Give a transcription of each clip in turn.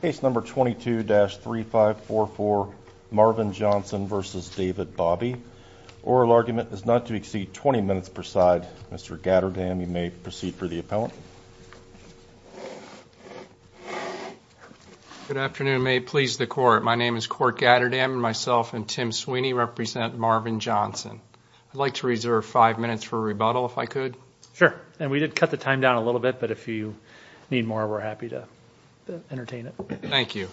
Case number 22-3544, Marvin Johnson v. David Bobby. Oral argument is not to exceed 20 minutes per side. Mr. Gatterdam, you may proceed for the appellant. Good afternoon. May it please the Court. My name is Court Gatterdam and myself and Tim Sweeney represent Marvin Johnson. I'd like to reserve five minutes for rebuttal, if I could. Sure. And we did cut the time down a little bit, but if you need more, we're happy to entertain it. Thank you.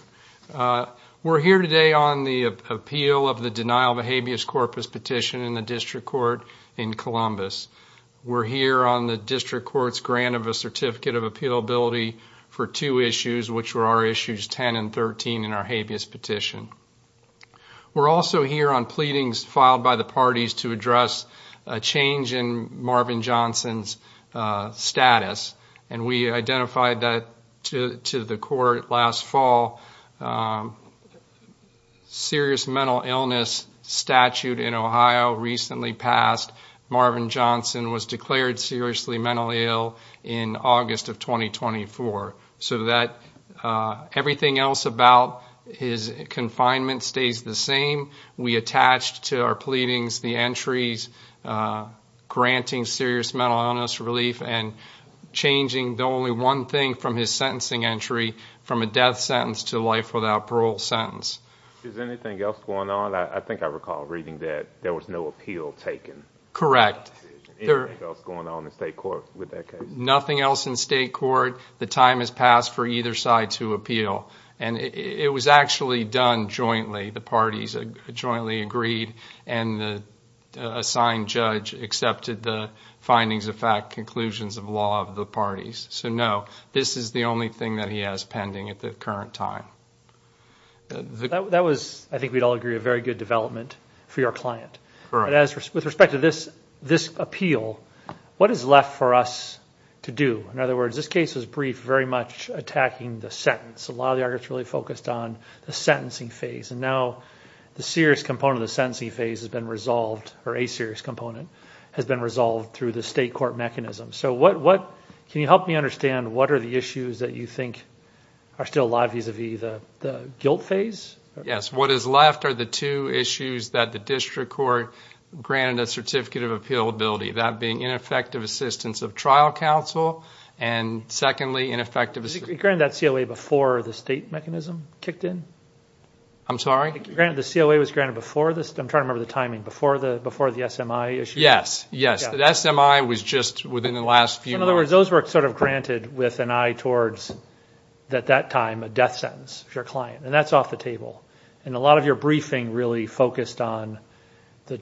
We're here today on the appeal of the denial of a habeas corpus petition in the District Court in Columbus. We're here on the District Court's grant of a certificate of appealability for two issues, which were our issues 10 and 13 in our habeas petition. We're also here on pleadings filed by the parties to address a change in Marvin Johnson's status, and we identified that to the Court last fall. Serious mental illness statute in Ohio recently passed. Marvin Johnson was declared seriously mentally ill in August of 2024. So that everything else about his confinement stays the same. We attached to our pleadings the entries granting serious mental illness relief and changing the only one thing from his sentencing entry from a death sentence to a life without parole sentence. Is anything else going on? I think I recall reading that there was no appeal taken. Correct. Anything else going on in State Court with that case? Nothing else in State Court. The time has passed for either side to appeal, and it was actually done jointly. The parties jointly agreed, and the assigned judge accepted the findings of fact, conclusions of law of the parties. So no, this is the only thing that he has pending at the current time. That was, I think we'd all agree, a very good development for your client. Correct. With respect to this appeal, what is left for us to do? In other words, this case was briefed very much attacking the sentence. A lot of the arguments really focused on the sentencing phase, and now the serious component of the sentencing phase has been resolved, or a serious component has been resolved through the State Court mechanism. Can you help me understand what are the issues that you think are still alive vis-à-vis the guilt phase? Yes. What is left are the two issues that the District Court granted a Certificate of Appeal Ability, that being ineffective assistance of trial counsel, and secondly, ineffective assistance. Was it granted that COA before the State mechanism kicked in? I'm sorry? The COA was granted before the – I'm trying to remember the timing – before the SMI issue? Yes, yes. The SMI was just within the last few months. In other words, those were sort of granted with an eye towards, at that time, a death sentence for your client. And that's off the table. And a lot of your briefing really focused on the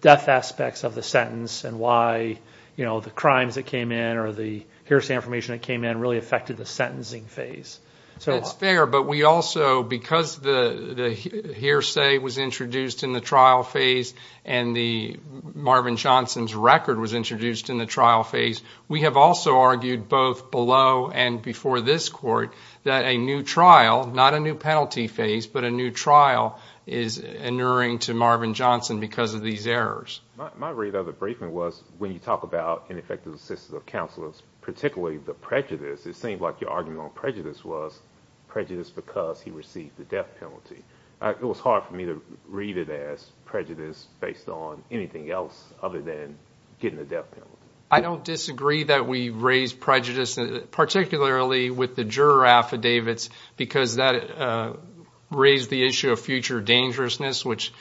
death aspects of the sentence and why the crimes that came in or the hearsay information that came in really affected the sentencing phase. That's fair, but we also, because the hearsay was introduced in the trial phase and Marvin Johnson's record was introduced in the trial phase, we have also argued both below and before this Court that a new trial, not a new penalty phase, but a new trial is inuring to Marvin Johnson because of these errors. My read of the briefing was when you talk about ineffective assistance of counselors, particularly the prejudice, it seemed like your argument on prejudice was prejudice because he received the death penalty. It was hard for me to read it as prejudice based on anything else other than getting a death penalty. I don't disagree that we raised prejudice, particularly with the juror affidavits, because that raised the issue of future dangerousness, which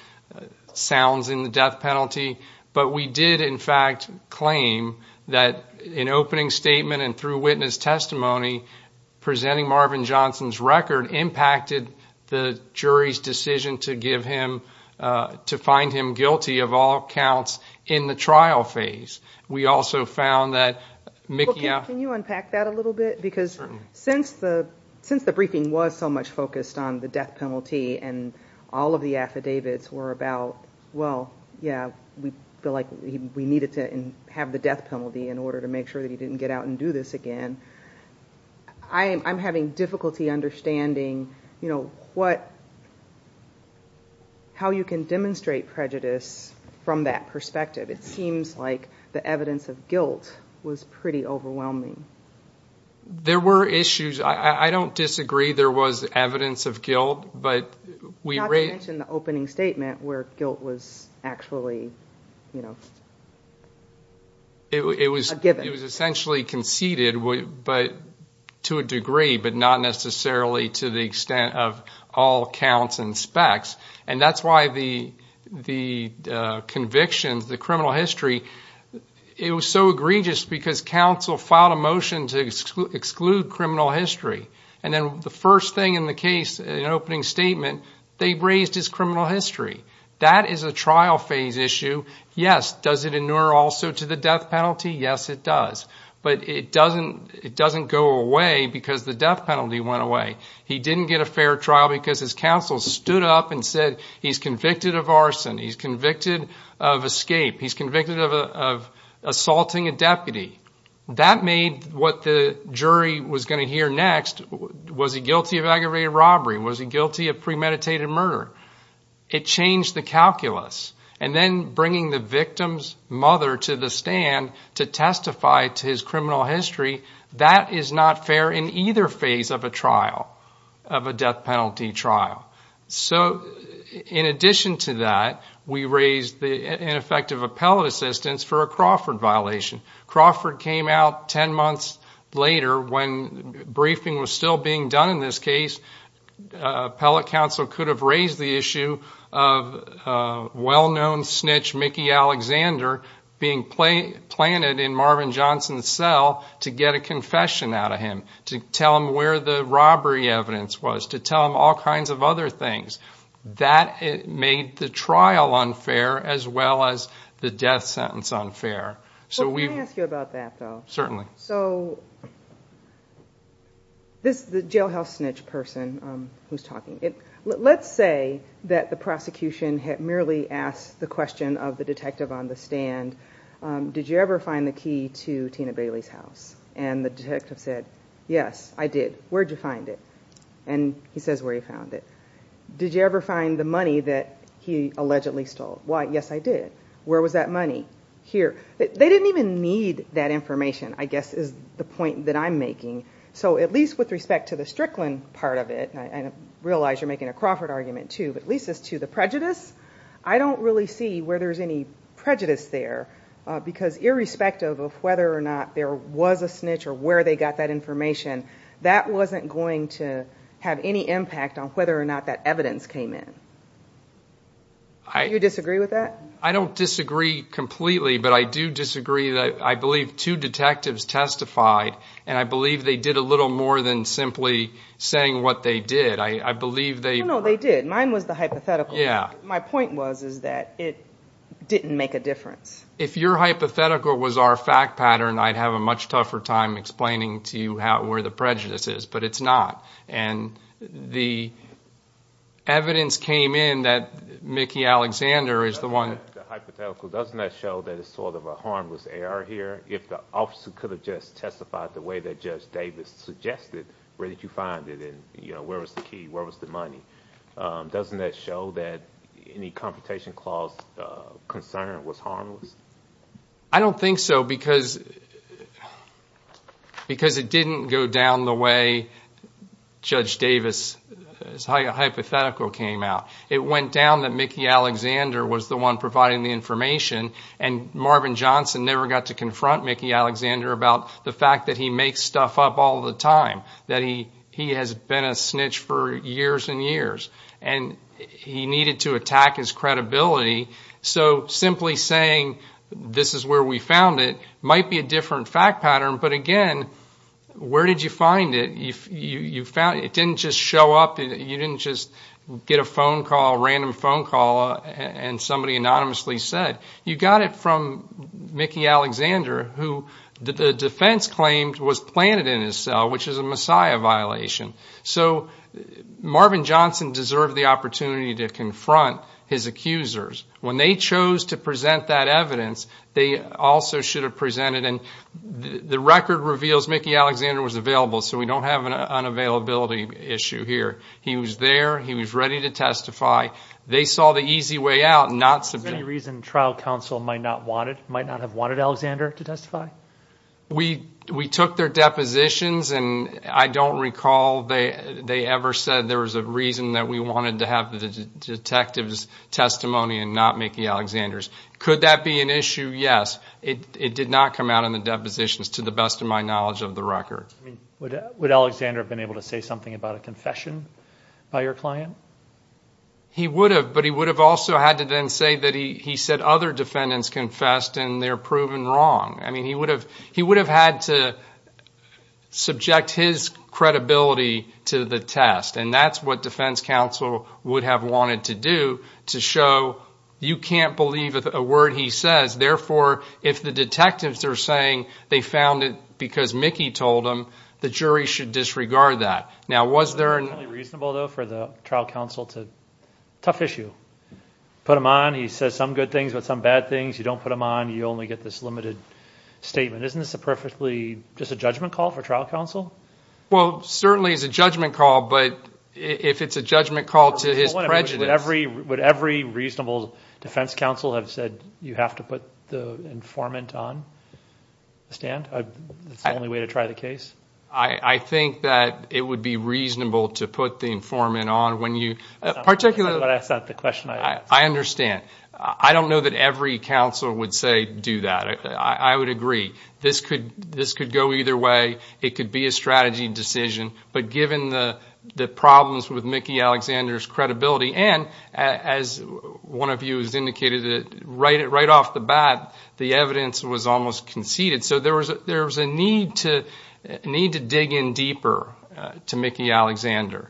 sounds in the death penalty. But we did, in fact, claim that an opening statement and through witness testimony presenting Marvin Johnson's record impacted the jury's decision to find him guilty of all counts in the trial phase. We also found that Mikia... Can you unpack that a little bit, because since the briefing was so much focused on the death penalty and all of the affidavits were about, well, yeah, we feel like we needed to have the death penalty in order to make sure that he didn't get out and do this again, I'm having difficulty understanding how you can demonstrate prejudice from that perspective. It seems like the evidence of guilt was pretty overwhelming. There were issues. I don't disagree there was evidence of guilt, but we raised... Not to mention the opening statement where guilt was actually, you know, a given. It was essentially conceded to a degree, but not necessarily to the extent of all counts and specs. And that's why the convictions, the criminal history, it was so egregious because counsel filed a motion to exclude criminal history. And then the first thing in the case, an opening statement, they raised his criminal history. That is a trial phase issue. Yes, does it inure also to the death penalty? Yes, it does. But it doesn't go away because the death penalty went away. He didn't get a fair trial because his counsel stood up and said he's convicted of arson, he's convicted of escape, he's convicted of assaulting a deputy. That made what the jury was going to hear next, was he guilty of aggravated robbery, was he guilty of premeditated murder? It changed the calculus. And then bringing the victim's mother to the stand to testify to his criminal history, that is not fair in either phase of a trial, of a death penalty trial. So in addition to that, we raised ineffective appellate assistance for a Crawford violation. Crawford came out ten months later when briefing was still being done in this case. Appellate counsel could have raised the issue of well-known snitch Mickey Alexander being planted in Marvin Johnson's cell to get a confession out of him, to tell him where the robbery evidence was, to tell him all kinds of other things. That made the trial unfair as well as the death sentence unfair. Well, can I ask you about that, though? Certainly. So this jailhouse snitch person who's talking, let's say that the prosecution had merely asked the question of the detective on the stand, did you ever find the key to Tina Bailey's house? And the detective said, yes, I did. Where did you find it? And he says where he found it. Did you ever find the money that he allegedly stole? Why, yes, I did. Where was that money? Here. They didn't even need that information, I guess is the point that I'm making. So at least with respect to the Strickland part of it, and I realize you're making a Crawford argument too, but at least as to the prejudice, I don't really see where there's any prejudice there, because irrespective of whether or not there was a snitch or where they got that information, that wasn't going to have any impact on whether or not that evidence came in. Do you disagree with that? I don't disagree completely, but I do disagree that I believe two detectives testified, and I believe they did a little more than simply saying what they did. I believe they were. No, no, they did. Mine was the hypothetical. Yeah. My point was is that it didn't make a difference. If your hypothetical was our fact pattern, I'd have a much tougher time explaining to you where the prejudice is, but it's not. And the evidence came in that Mickey Alexander is the one. The hypothetical does not show that it's sort of a harmless error here. If the officer could have just testified the way that Judge Davis suggested, where did you find it, and where was the key, where was the money? Doesn't that show that any confrontation clause concern was harmless? I don't think so, because it didn't go down the way Judge Davis' hypothetical came out. It went down that Mickey Alexander was the one providing the information, and Marvin Johnson never got to confront Mickey Alexander about the fact that he makes stuff up all the time, that he has been a snitch for years and years, and he needed to attack his credibility. So simply saying this is where we found it might be a different fact pattern, but, again, where did you find it? It didn't just show up. You didn't just get a phone call, a random phone call, and somebody anonymously said. You got it from Mickey Alexander, who the defense claimed was planted in his cell, which is a Messiah violation. So Marvin Johnson deserved the opportunity to confront his accusers. When they chose to present that evidence, they also should have presented it. The record reveals Mickey Alexander was available, so we don't have an unavailability issue here. He was there. He was ready to testify. They saw the easy way out, not subject. Is there any reason trial counsel might not have wanted Alexander to testify? We took their depositions, and I don't recall they ever said there was a reason that we wanted to have the detective's testimony and not Mickey Alexander's. Could that be an issue? Yes. It did not come out in the depositions to the best of my knowledge of the record. Would Alexander have been able to say something about a confession by your client? He would have, but he would have also had to then say that he said other defendants confessed and they're proven wrong. I mean, he would have had to subject his credibility to the test, and that's what defense counsel would have wanted to do, to show you can't believe a word he says. Therefore, if the detectives are saying they found it because Mickey told them, the jury should disregard that. Now, was there an – Is it perfectly reasonable, though, for the trial counsel to – tough issue. Put him on, he says some good things about some bad things. You don't put him on, you only get this limited statement. Isn't this a perfectly – just a judgment call for trial counsel? Well, certainly it's a judgment call, but if it's a judgment call to his prejudice – Put the informant on the stand? That's the only way to try the case? I think that it would be reasonable to put the informant on when you – That's not the question I asked. I understand. I don't know that every counsel would say do that. I would agree. This could go either way. It could be a strategy decision, but given the problems with Mickey Alexander's credibility, and as one of you has indicated, right off the bat, the evidence was almost conceded. So there was a need to dig in deeper to Mickey Alexander.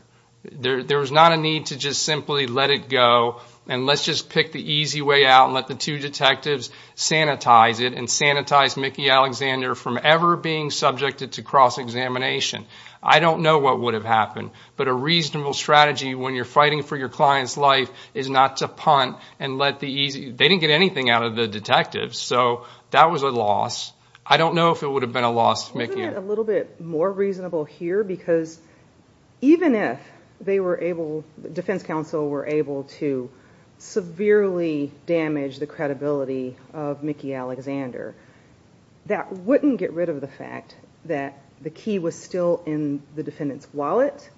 There was not a need to just simply let it go and let's just pick the easy way out and let the two detectives sanitize it and sanitize Mickey Alexander from ever being subjected to cross-examination. I don't know what would have happened, but a reasonable strategy when you're fighting for your client's life is not to punt and let the easy – They didn't get anything out of the detectives, so that was a loss. I don't know if it would have been a loss to Mickey. Isn't it a little bit more reasonable here because even if they were able – the defense counsel were able to severely damage the credibility of Mickey Alexander, that wouldn't get rid of the fact that the key was still in the defendant's wallet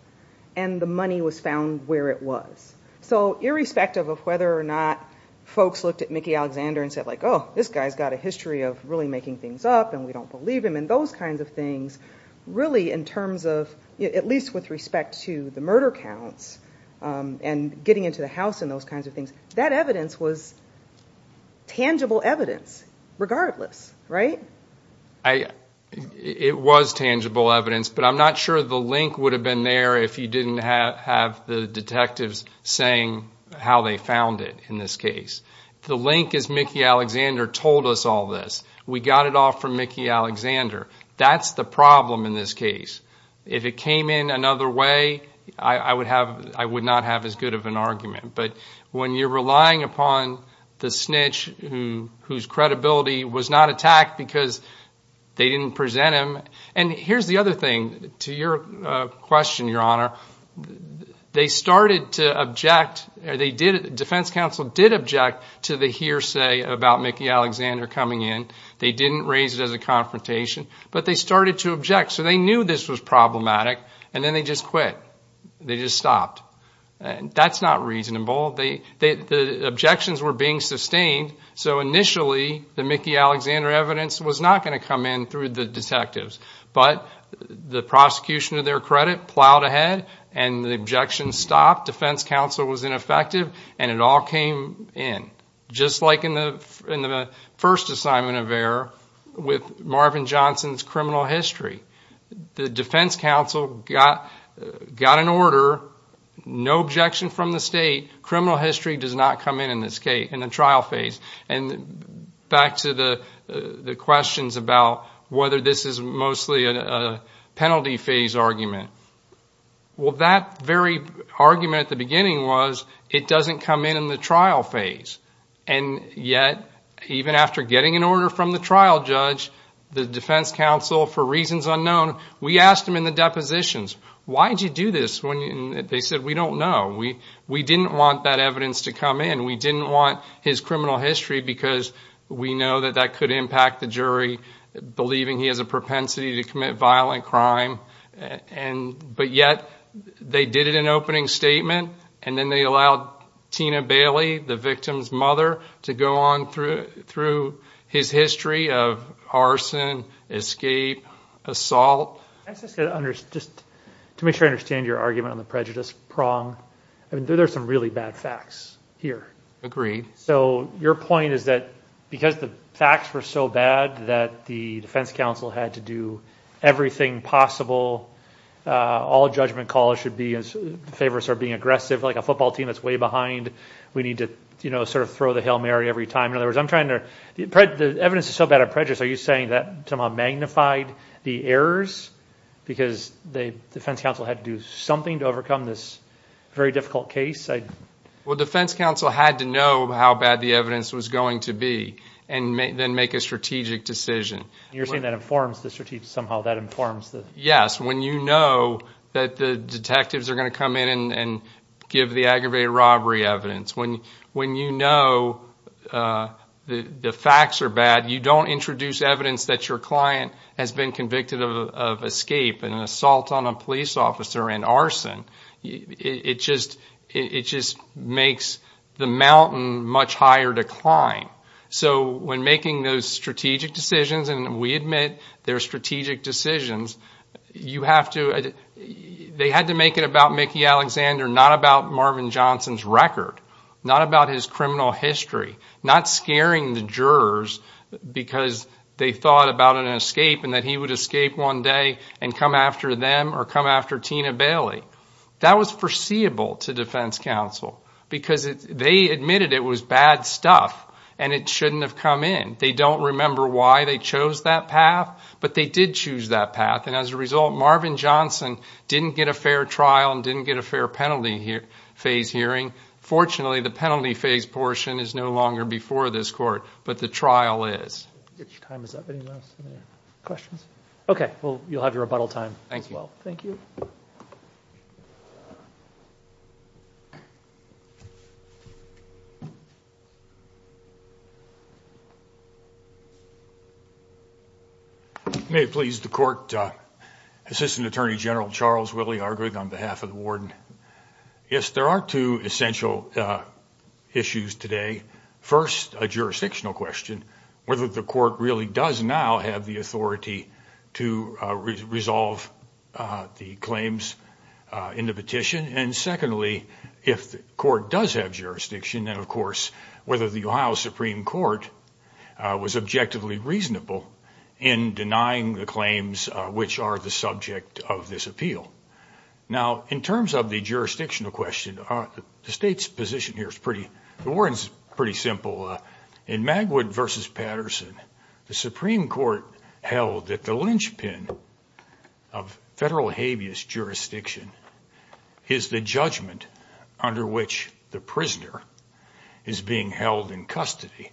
and the money was found where it was. So irrespective of whether or not folks looked at Mickey Alexander and said, oh, this guy's got a history of really making things up and we don't believe him and those kinds of things, really in terms of, at least with respect to the murder counts and getting into the house and those kinds of things, that evidence was tangible evidence regardless, right? It was tangible evidence, but I'm not sure the link would have been there if you didn't have the detectives saying how they found it in this case. The link is Mickey Alexander told us all this. We got it off from Mickey Alexander. That's the problem in this case. If it came in another way, I would not have as good of an argument. But when you're relying upon the snitch whose credibility was not attacked because they didn't present him – and here's the other thing to your question, Your Honor. They started to object – the defense counsel did object to the hearsay about Mickey Alexander coming in. They didn't raise it as a confrontation, but they started to object. So they knew this was problematic, and then they just quit. They just stopped. That's not reasonable. The objections were being sustained, so initially the Mickey Alexander evidence was not going to come in through the detectives. But the prosecution, to their credit, plowed ahead, and the objections stopped. Defense counsel was ineffective, and it all came in, just like in the first assignment of error with Marvin Johnson's criminal history. The defense counsel got an order, no objection from the state, criminal history does not come in in the trial phase. And back to the questions about whether this is mostly a penalty phase argument. Well, that very argument at the beginning was it doesn't come in in the trial phase. And yet, even after getting an order from the trial judge, the defense counsel, for reasons unknown, we asked him in the depositions, why did you do this? They said, we don't know. We didn't want that evidence to come in. We didn't want his criminal history because we know that that could impact the jury, believing he has a propensity to commit violent crime. But yet they did it in opening statement, and then they allowed Tina Bailey, the victim's mother, to go on through his history of arson, escape, assault. Just to make sure I understand your argument on the prejudice prong, there are some really bad facts here. Agreed. So your point is that because the facts were so bad that the defense counsel had to do everything possible, all judgment calls should be in favor of being aggressive, like a football team that's way behind. We need to sort of throw the Hail Mary every time. In other words, the evidence is so bad of prejudice, are you saying that somehow magnified the errors because the defense counsel had to do something to overcome this very difficult case? Well, the defense counsel had to know how bad the evidence was going to be and then make a strategic decision. You're saying that informs the strategy somehow, that informs the... Yes, when you know that the detectives are going to come in and give the aggravated robbery evidence. When you know the facts are bad, you don't introduce evidence that your client has been convicted of escape and assault on a police officer and arson. It just makes the mountain much higher to climb. So when making those strategic decisions, and we admit they're strategic decisions, they had to make it about Mickey Alexander, not about Marvin Johnson's record, not about his criminal history, not scaring the jurors because they thought about an escape and that he would escape one day and come after them or come after Tina Bailey. That was foreseeable to defense counsel because they admitted it was bad stuff and it shouldn't have come in. They don't remember why they chose that path, but they did choose that path. And as a result, Marvin Johnson didn't get a fair trial and didn't get a fair penalty phase hearing. Fortunately, the penalty phase portion is no longer before this court, but the trial is. Your time is up. Anyone else have any questions? Okay, well, you'll have your rebuttal time as well. Thank you. May it please the court. Assistant Attorney General Charles Willey arguing on behalf of the warden. Yes, there are two essential issues today. First, a jurisdictional question, whether the court really does now have the authority to resolve the claims in the petition. And secondly, if the court does have jurisdiction, then of course whether the Ohio Supreme Court was objectively reasonable in denying the claims which are the subject of this appeal. Now, in terms of the jurisdictional question, the state's position here is pretty simple. In Magwood v. Patterson, the Supreme Court held that the linchpin of federal habeas jurisdiction is the judgment under which the prisoner is being held in custody.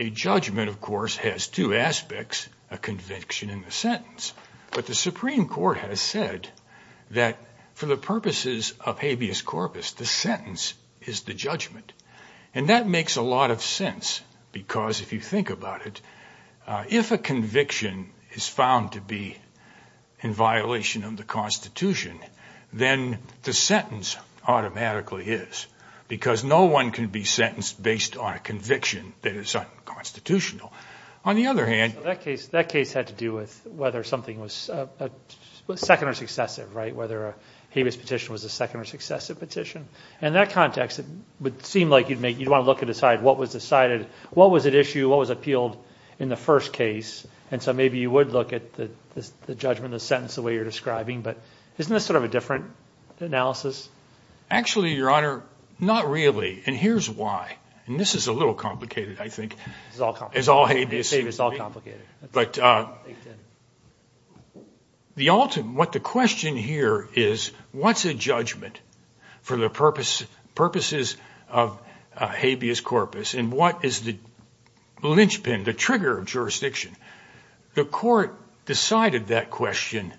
A judgment, of course, has two aspects, a conviction and a sentence. But the Supreme Court has said that for the purposes of habeas corpus, the sentence is the judgment. And that makes a lot of sense because if you think about it, if a conviction is found to be in violation of the Constitution, then the sentence automatically is because no one can be sentenced based on a conviction that is unconstitutional. On the other hand- That case had to do with whether something was second or successive, right, whether a habeas petition was a second or successive petition. And in that context, it would seem like you'd want to look and decide what was decided, what was at issue, what was appealed in the first case. And so maybe you would look at the judgment, the sentence, the way you're describing. But isn't this sort of a different analysis? Actually, Your Honor, not really. And here's why. And this is a little complicated, I think. It's all complicated. It's all habeas. It's all complicated. But what the question here is, what's a judgment for the purposes of habeas corpus? And what is the linchpin, the trigger of jurisdiction? The court decided that question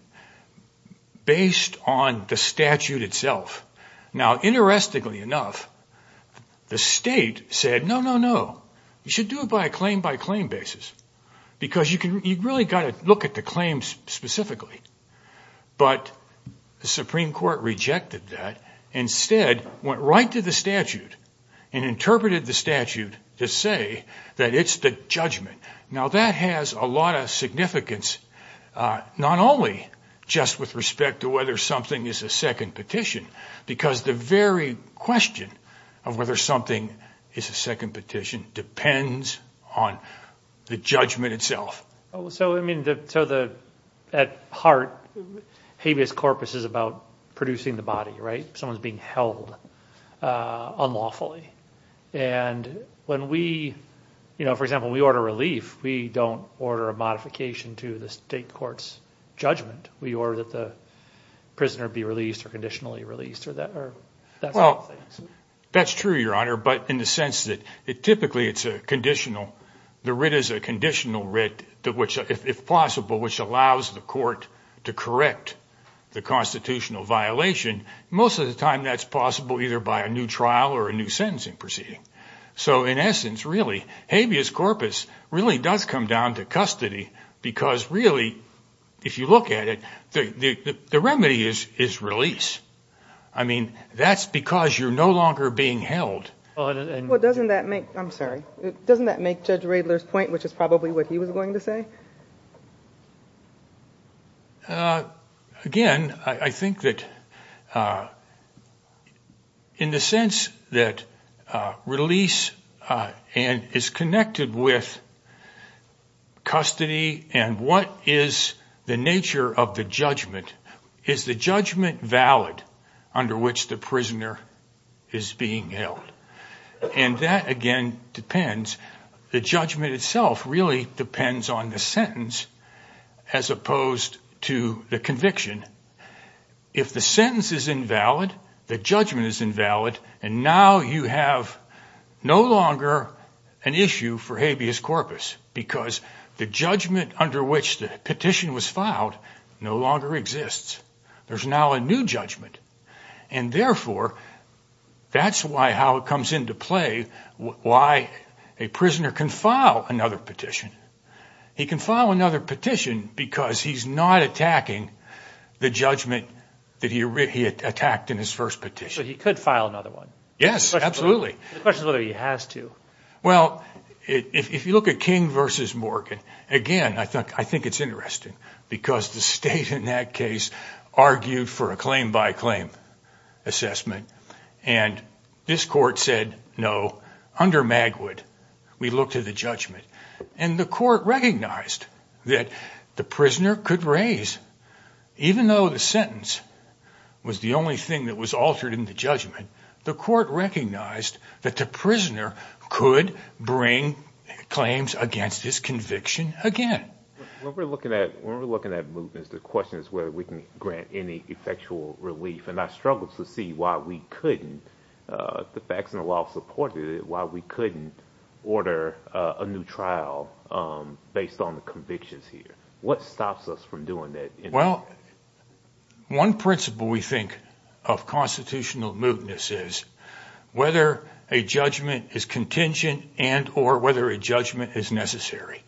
based on the statute itself. Now, interestingly enough, the state said, no, no, no, you should do it by a claim-by-claim basis because you've really got to look at the claims specifically. But the Supreme Court rejected that. Instead, went right to the statute and interpreted the statute to say that it's the judgment. Now, that has a lot of significance, not only just with respect to whether something is a second petition, because the very question of whether something is a second petition depends on the judgment itself. So, I mean, at heart, habeas corpus is about producing the body, right? Someone's being held unlawfully. And when we, you know, for example, we order relief, we don't order a modification to the state court's judgment. We order that the prisoner be released or conditionally released or that sort of thing. Well, that's true, Your Honor, but in the sense that typically it's a conditional. The writ is a conditional writ, if possible, which allows the court to correct the constitutional violation. Most of the time that's possible either by a new trial or a new sentencing proceeding. So, in essence, really, habeas corpus really does come down to custody because really, if you look at it, the remedy is release. I mean, that's because you're no longer being held. Well, doesn't that make, I'm sorry, doesn't that make Judge Radler's point, which is probably what he was going to say? Again, I think that in the sense that release is connected with custody and what is the nature of the judgment, is the judgment valid under which the prisoner is being held? And that, again, depends. The judgment itself really depends on the sentence as opposed to the conviction. If the sentence is invalid, the judgment is invalid, and now you have no longer an issue for habeas corpus because the judgment under which the petition was filed no longer exists. There's now a new judgment. And, therefore, that's how it comes into play, why a prisoner can file another petition. He can file another petition because he's not attacking the judgment that he attacked in his first petition. So he could file another one. Yes, absolutely. The question is whether he has to. Well, if you look at King v. Morgan, again, I think it's interesting because the state in that case argued for a claim-by-claim assessment, and this court said no. Under Magwood, we look to the judgment, and the court recognized that the prisoner could raise, even though the sentence was the only thing that was altered in the judgment, the court recognized that the prisoner could bring claims against his conviction again. When we're looking at mootness, the question is whether we can grant any effectual relief, and I struggle to see why we couldn't, the facts and the law supported it, why we couldn't order a new trial based on the convictions here. What stops us from doing that? Well, one principle we think of constitutional mootness is whether a judgment is contingent and or whether a judgment is necessary.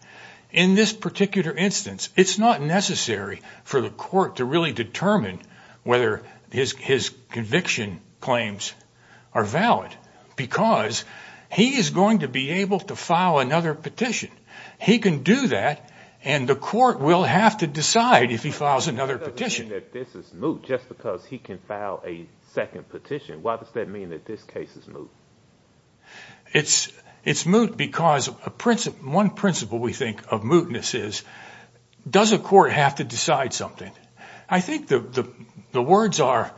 In this particular instance, it's not necessary for the court to really determine whether his conviction claims are valid because he is going to be able to file another petition. He can do that, and the court will have to decide if he files another petition. That doesn't mean that this is moot just because he can file a second petition. Why does that mean that this case is moot? It's moot because one principle we think of mootness is does a court have to decide something? I think the words are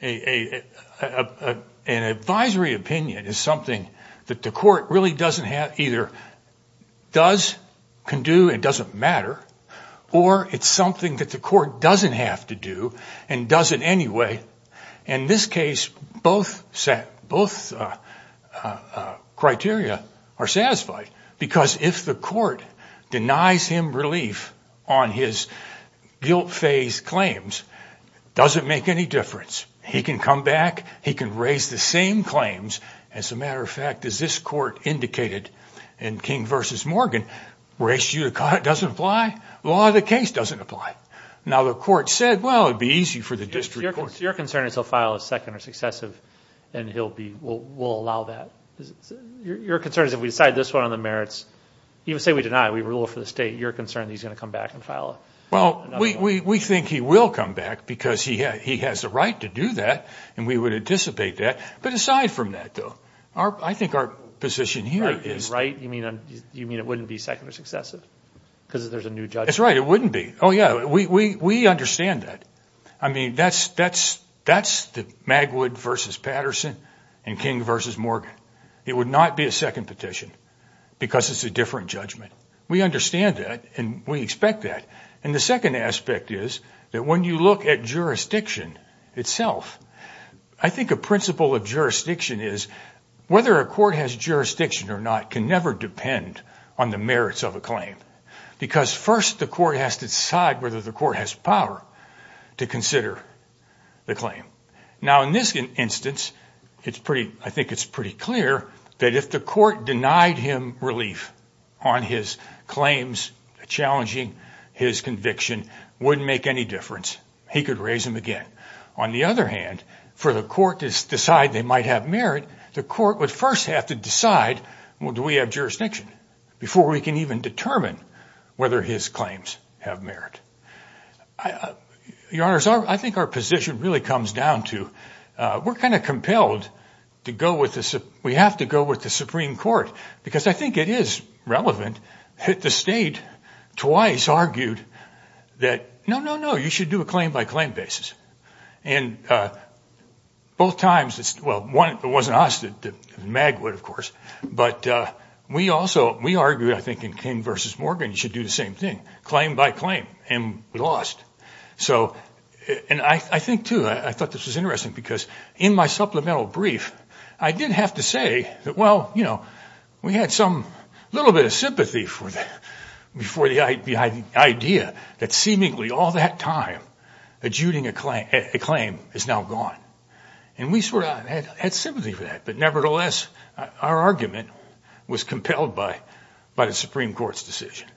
an advisory opinion is something that the court really doesn't have either does, can do, and doesn't matter, or it's something that the court doesn't have to do and doesn't anyway. In this case, both criteria are satisfied because if the court denies him relief on his guilt phase claims, it doesn't make any difference. He can come back. He can raise the same claims. As a matter of fact, as this court indicated in King v. Morgan, race judicata doesn't apply. Law of the case doesn't apply. Now the court said, well, it would be easy for the district court. Your concern is he'll file a second or successive and we'll allow that. Your concern is if we decide this one on the merits, even say we deny, we rule for the state, your concern is he's going to come back and file another one? We think he will come back because he has the right to do that and we would anticipate that. But aside from that, though, I think our position here is... Right? You mean it wouldn't be second or successive because there's a new judgment? That's right. It wouldn't be. Oh, yeah. We understand that. I mean, that's the Magwood v. Patterson and King v. Morgan. It would not be a second petition because it's a different judgment. We understand that and we expect that. And the second aspect is that when you look at jurisdiction itself, I think a principle of jurisdiction is whether a court has jurisdiction or not can never depend on the merits of a claim because first the court has to decide whether the court has power to consider the claim. Now, in this instance, I think it's pretty clear that if the court denied him relief on his claims, challenging his conviction, wouldn't make any difference. He could raise them again. On the other hand, for the court to decide they might have merit, the court would first have to decide, well, do we have jurisdiction, before we can even determine whether his claims have merit. Your Honors, I think our position really comes down to we're kind of compelled to go with the Supreme Court because I think it is relevant that the state twice argued that, no, no, no, you should do a claim by claim basis. And both times, well, it wasn't us, Magwood, of course, but we also argued I think in King v. Morgan you should do the same thing, claim by claim. And we lost. And I think, too, I thought this was interesting because in my supplemental brief, I did have to say that, well, you know, we had some little bit of sympathy for the idea that seemingly all that time adjuding a claim is now gone. And we sort of had sympathy for that. But, nevertheless, our argument was compelled by the Supreme Court's decision.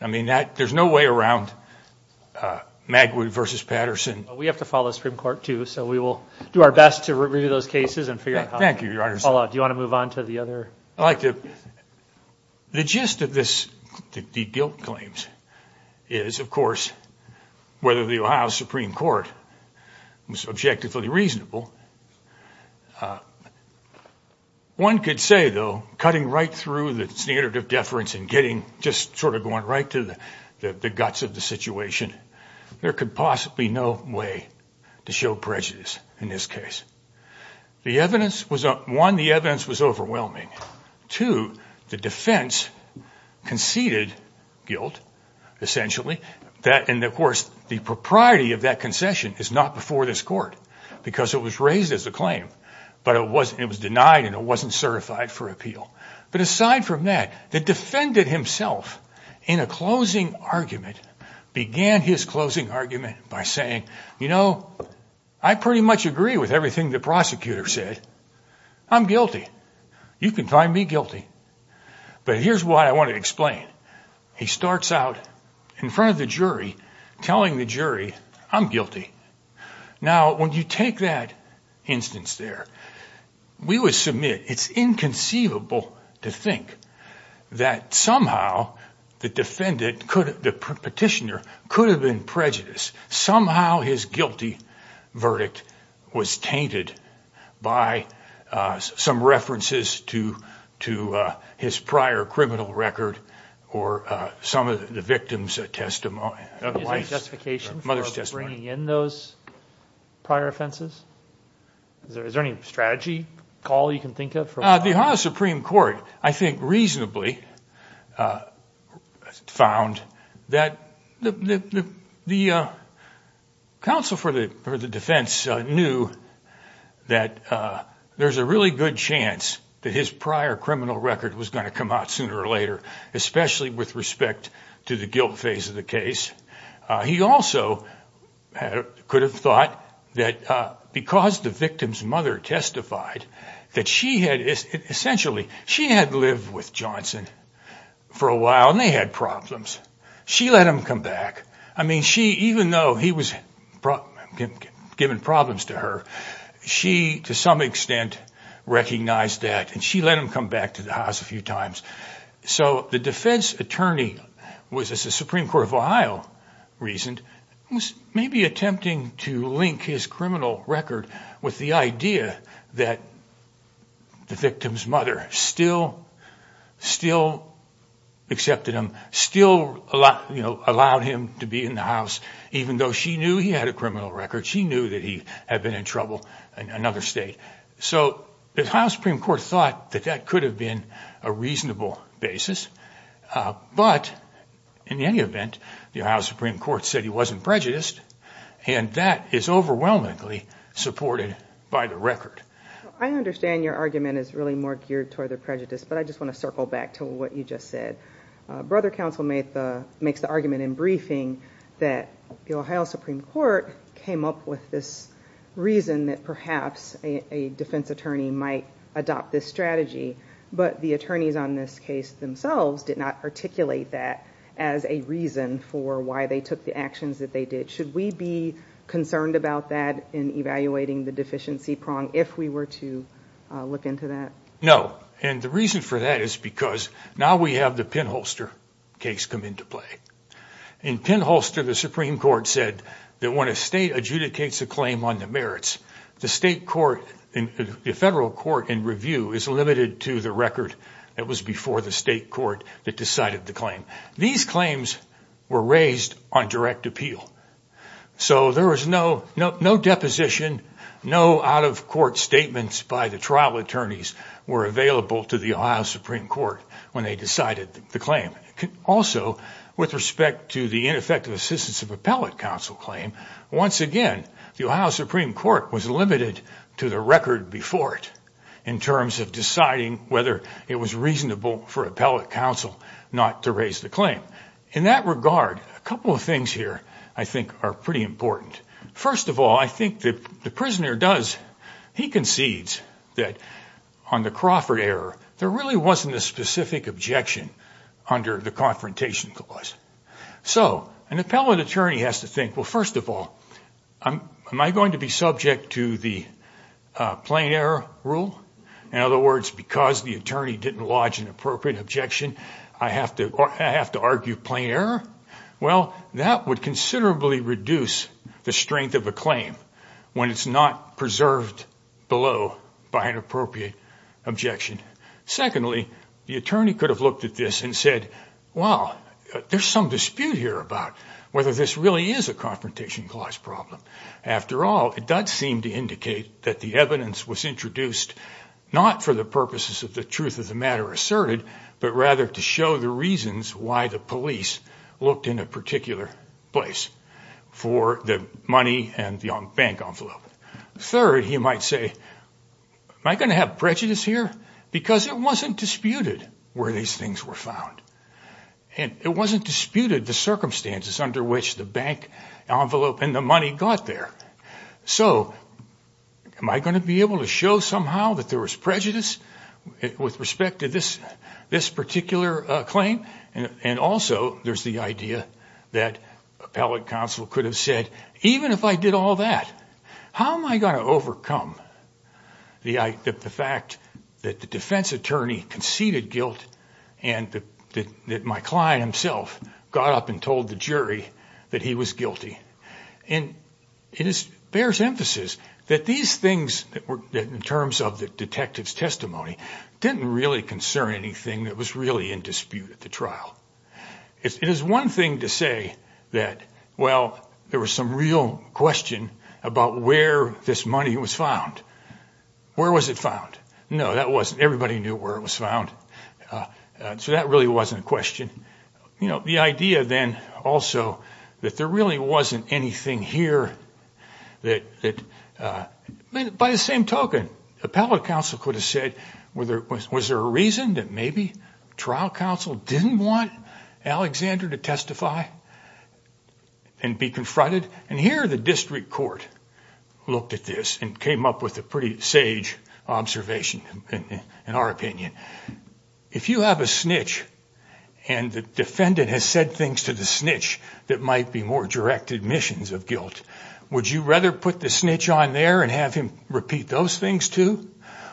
I mean, there's no way around Magwood v. Patterson. We have to follow the Supreme Court, too, so we will do our best to review those cases and figure out how. Thank you, Your Honors. Do you want to move on to the other? I'd like to. The gist of this, the guilt claims, is, of course, whether the Ohio Supreme Court was objectively reasonable. One could say, though, cutting right through the standard of deference and getting just sort of going right to the guts of the situation, there could possibly be no way to show prejudice in this case. One, the evidence was overwhelming. Two, the defense conceded guilt, essentially. And, of course, the propriety of that concession is not before this court because it was raised as a claim, but it was denied and it wasn't certified for appeal. But aside from that, the defendant himself, in a closing argument, began his closing argument by saying, you know, I pretty much agree with everything the prosecutor said. I'm guilty. You can find me guilty. But here's what I want to explain. He starts out in front of the jury telling the jury, I'm guilty. Now, when you take that instance there, we would submit it's inconceivable to think that somehow the defendant, the petitioner, could have been prejudiced. Somehow his guilty verdict was tainted by some references to his prior criminal record or some of the victim's testimony. Is there justification for bringing in those prior offenses? Is there any strategy call you can think of? The Ohio Supreme Court, I think, reasonably found that the counsel for the defense knew that there's a really good chance that his prior criminal record was going to come out sooner or later, especially with respect to the guilt phase of the case. He also could have thought that because the victim's mother testified that she had, essentially, she had lived with Johnson for a while and they had problems. She let him come back. I mean, even though he was giving problems to her, she, to some extent, recognized that and she let him come back to the house a few times. So the defense attorney was, as the Supreme Court of Ohio reasoned, was maybe attempting to link his criminal record with the idea that the victim's mother still accepted him, still allowed him to be in the house, even though she knew he had a criminal record. She knew that he had been in trouble in another state. So the Ohio Supreme Court thought that that could have been a reasonable basis, but in any event, the Ohio Supreme Court said he wasn't prejudiced, and that is overwhelmingly supported by the record. I understand your argument is really more geared toward the prejudice, but I just want to circle back to what you just said. Brother counsel makes the argument in briefing that the Ohio Supreme Court came up with this reason that perhaps a defense attorney might adopt this strategy, but the attorneys on this case themselves did not articulate that as a reason for why they took the actions that they did. Should we be concerned about that in evaluating the deficiency prong if we were to look into that? No, and the reason for that is because now we have the Penholster case come into play. In Penholster, the Supreme Court said that when a state adjudicates a claim on the merits, the federal court in review is limited to the record that was before the state court that decided the claim. These claims were raised on direct appeal. So there was no deposition, no out-of-court statements by the trial attorneys were available to the Ohio Supreme Court when they decided the claim. Also, with respect to the ineffective assistance of appellate counsel claim, once again, the Ohio Supreme Court was limited to the record before it in terms of deciding whether it was reasonable for appellate counsel not to raise the claim. In that regard, a couple of things here I think are pretty important. First of all, I think that the prisoner does, he concedes that on the Crawford error, there really wasn't a specific objection under the confrontation clause. So an appellate attorney has to think, well, first of all, am I going to be subject to the plain error rule? In other words, because the attorney didn't lodge an appropriate objection, I have to argue plain error? Well, that would considerably reduce the strength of a claim when it's not preserved below by an appropriate objection. Secondly, the attorney could have looked at this and said, well, there's some dispute here about whether this really is a confrontation clause problem. After all, it does seem to indicate that the evidence was introduced not for the purposes of the truth of the matter asserted, but rather to show the reasons why the police looked in a particular place for the money and the bank envelope. Third, he might say, am I going to have prejudice here? Because it wasn't disputed where these things were found. And it wasn't disputed the circumstances under which the bank envelope and the money got there. So am I going to be able to show somehow that there was prejudice with respect to this particular claim? And also, there's the idea that appellate counsel could have said, even if I did all that, how am I going to overcome the fact that the defense attorney conceded guilt and that my client himself got up and told the jury that he was guilty? And it bears emphasis that these things, in terms of the detective's testimony, didn't really concern anything that was really in dispute at the trial. It is one thing to say that, well, there was some real question about where this money was found. Where was it found? No, that wasn't. Everybody knew where it was found, so that really wasn't a question. The idea then also that there really wasn't anything here that, by the same token, appellate counsel could have said, was there a reason that maybe trial counsel didn't want Alexander to testify and be confronted? And here the district court looked at this and came up with a pretty sage observation, in our opinion. If you have a snitch and the defendant has said things to the snitch that might be more directed admissions of guilt, would you rather put the snitch on there and have him repeat those things too?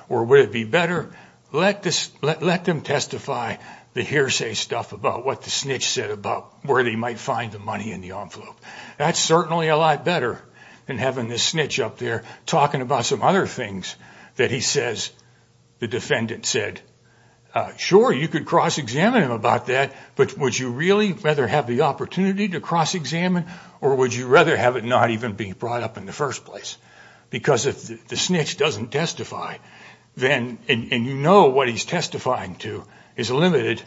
Or would it be better, let them testify the hearsay stuff about what the snitch said about where they might find the money in the envelope? That's certainly a lot better than having the snitch up there talking about some other things that he says the defendant said. Sure, you could cross-examine him about that, but would you really rather have the opportunity to cross-examine or would you rather have it not even be brought up in the first place? Because if the snitch doesn't testify and you know what he's testifying to is limited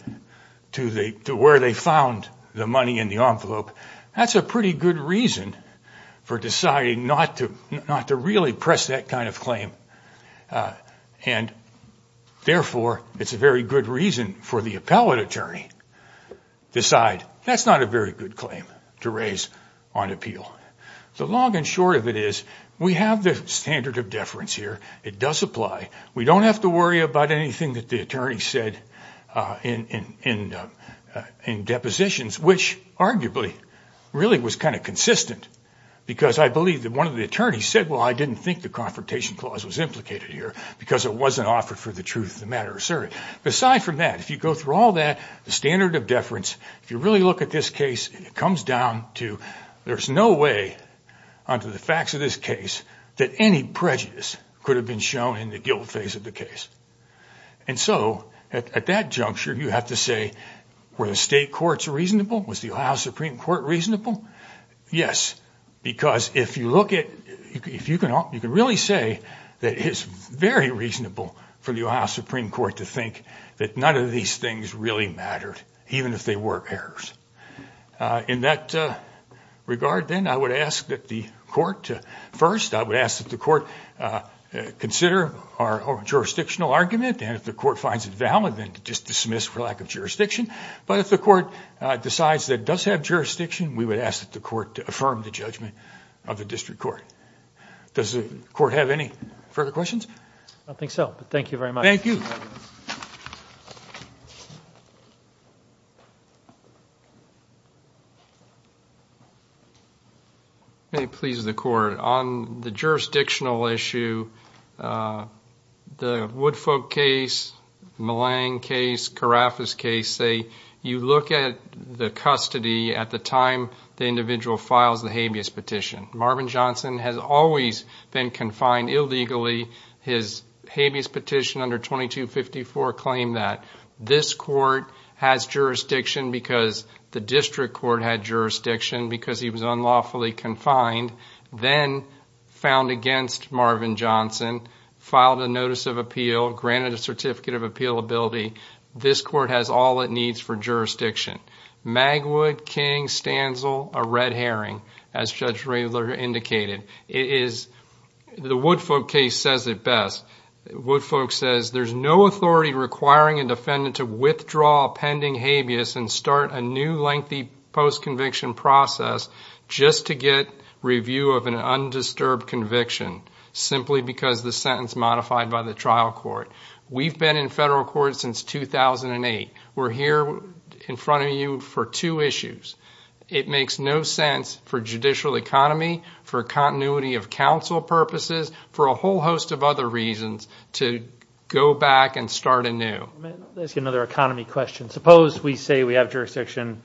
to where they found the money in the envelope, that's a pretty good reason for deciding not to really press that kind of claim. Therefore, it's a very good reason for the appellate attorney to decide that's not a very good claim to raise on appeal. The long and short of it is we have the standard of deference here. It does apply. We don't have to worry about anything that the attorney said in depositions, which arguably really was kind of consistent because I believe that one of the attorneys said, well, I didn't think the confrontation clause was implicated here because it wasn't offered for the truth of the matter. Aside from that, if you go through all that, the standard of deference, if you really look at this case, it comes down to there's no way under the facts of this case that any prejudice could have been shown in the guilt phase of the case. And so at that juncture, you have to say, were the state courts reasonable? Was the Ohio Supreme Court reasonable? Yes, because if you look at, you can really say that it's very reasonable for the Ohio Supreme Court to think that none of these things really mattered, even if they were errors. In that regard, then, I would ask that the court, first, I would ask that the court consider our jurisdictional argument, and if the court finds it valid, then just dismiss for lack of jurisdiction. But if the court decides that it does have jurisdiction, we would ask that the court affirm the judgment of the district court. Does the court have any further questions? I don't think so, but thank you very much. It pleases the court. On the jurisdictional issue, the Woodfolk case, Malang case, Carafas case, say you look at the custody at the time the individual files the habeas petition. Marvin Johnson has always been confined illegally. His habeas petition under 2254 claimed that. This court has jurisdiction because the district court had jurisdiction because he was unlawfully confined, then found against Marvin Johnson, filed a notice of appeal, granted a certificate of appealability. This court has all it needs for jurisdiction. Magwood, King, Stanzel, a red herring, as Judge Rayler indicated. The Woodfolk case says it best. Woodfolk says there's no authority requiring a defendant to withdraw pending habeas and start a new lengthy post-conviction process just to get review of an undisturbed conviction, simply because the sentence modified by the trial court. We've been in federal court since 2008. We're here in front of you for two issues. It makes no sense for judicial economy, for continuity of counsel purposes, for a whole host of other reasons to go back and start anew. Let me ask you another economy question. Suppose we say we have jurisdiction,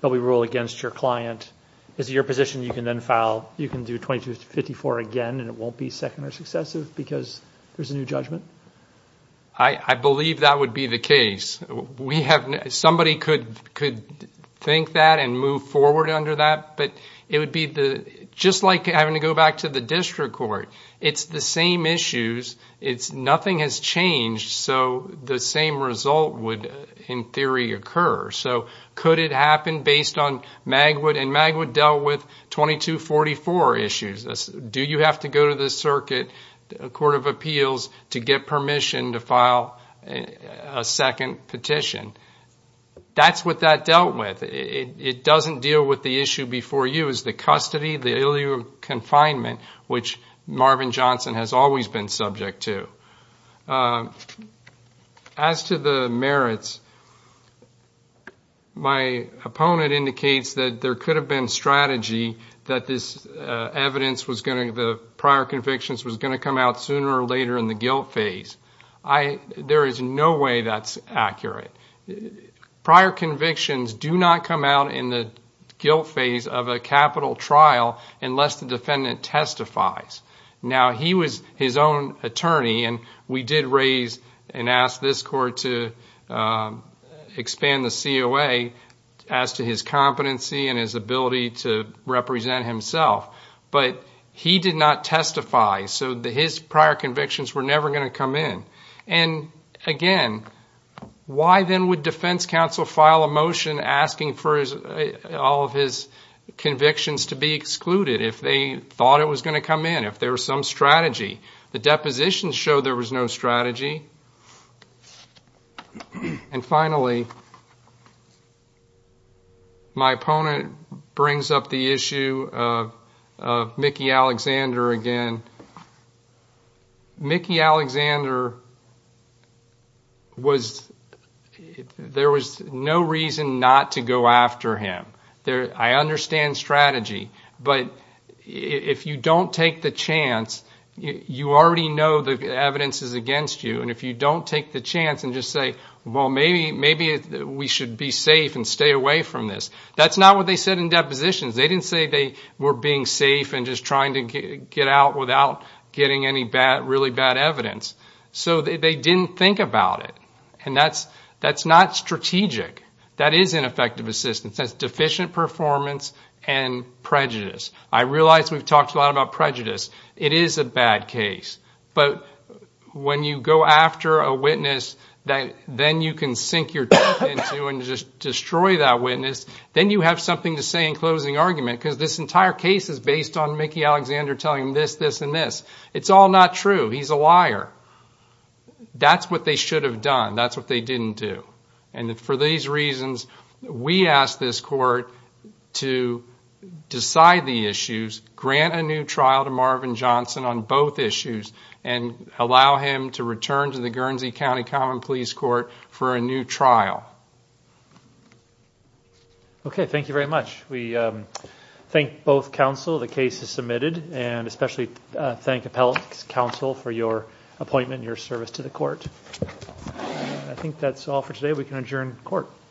but we rule against your client. Is it your position you can then file, you can do 2254 again, and it won't be second or successive because there's a new judgment? I believe that would be the case. Somebody could think that and move forward under that, but it would be just like having to go back to the district court. It's the same issues. Nothing has changed, so the same result would, in theory, occur. So could it happen based on Magwood, and Magwood dealt with 2244 issues. Do you have to go to the circuit court of appeals to get permission to file a second petition? That's what that dealt with. It doesn't deal with the issue before you. It's the custody, the illegal confinement, which Marvin Johnson has always been subject to. As to the merits, my opponent indicates that there could have been strategy that the prior convictions was going to come out sooner or later in the guilt phase. There is no way that's accurate. Prior convictions do not come out in the guilt phase of a capital trial unless the defendant testifies. Now, he was his own attorney, and we did raise and ask this court to expand the COA as to his competency and his ability to represent himself, but he did not testify, so his prior convictions were never going to come in. Again, why then would defense counsel file a motion asking for all of his convictions to be excluded if they thought it was going to come in, if there was some strategy? The depositions show there was no strategy. Finally, my opponent brings up the issue of Mickey Alexander again. Mickey Alexander, there was no reason not to go after him. I understand strategy, but if you don't take the chance, you already know the evidence is against you, and if you don't take the chance and just say, well, maybe we should be safe and stay away from this, that's not what they said in depositions. They didn't say they were being safe and just trying to get out without getting any really bad evidence. So they didn't think about it, and that's not strategic. That is ineffective assistance. That's deficient performance and prejudice. I realize we've talked a lot about prejudice. It is a bad case, but when you go after a witness that then you can sink your teeth into and just destroy that witness, then you have something to say in closing argument because this entire case is based on Mickey Alexander telling him this, this, and this. It's all not true. He's a liar. That's what they should have done. That's what they didn't do, and for these reasons, we ask this court to decide the issues, grant a new trial to Marvin Johnson on both issues, and allow him to return to the Guernsey County Common Pleas Court for a new trial. Okay, thank you very much. We thank both counsel. The case is submitted, and especially thank Appellate Counsel for your appointment and your service to the court. I think that's all for today. We can adjourn court.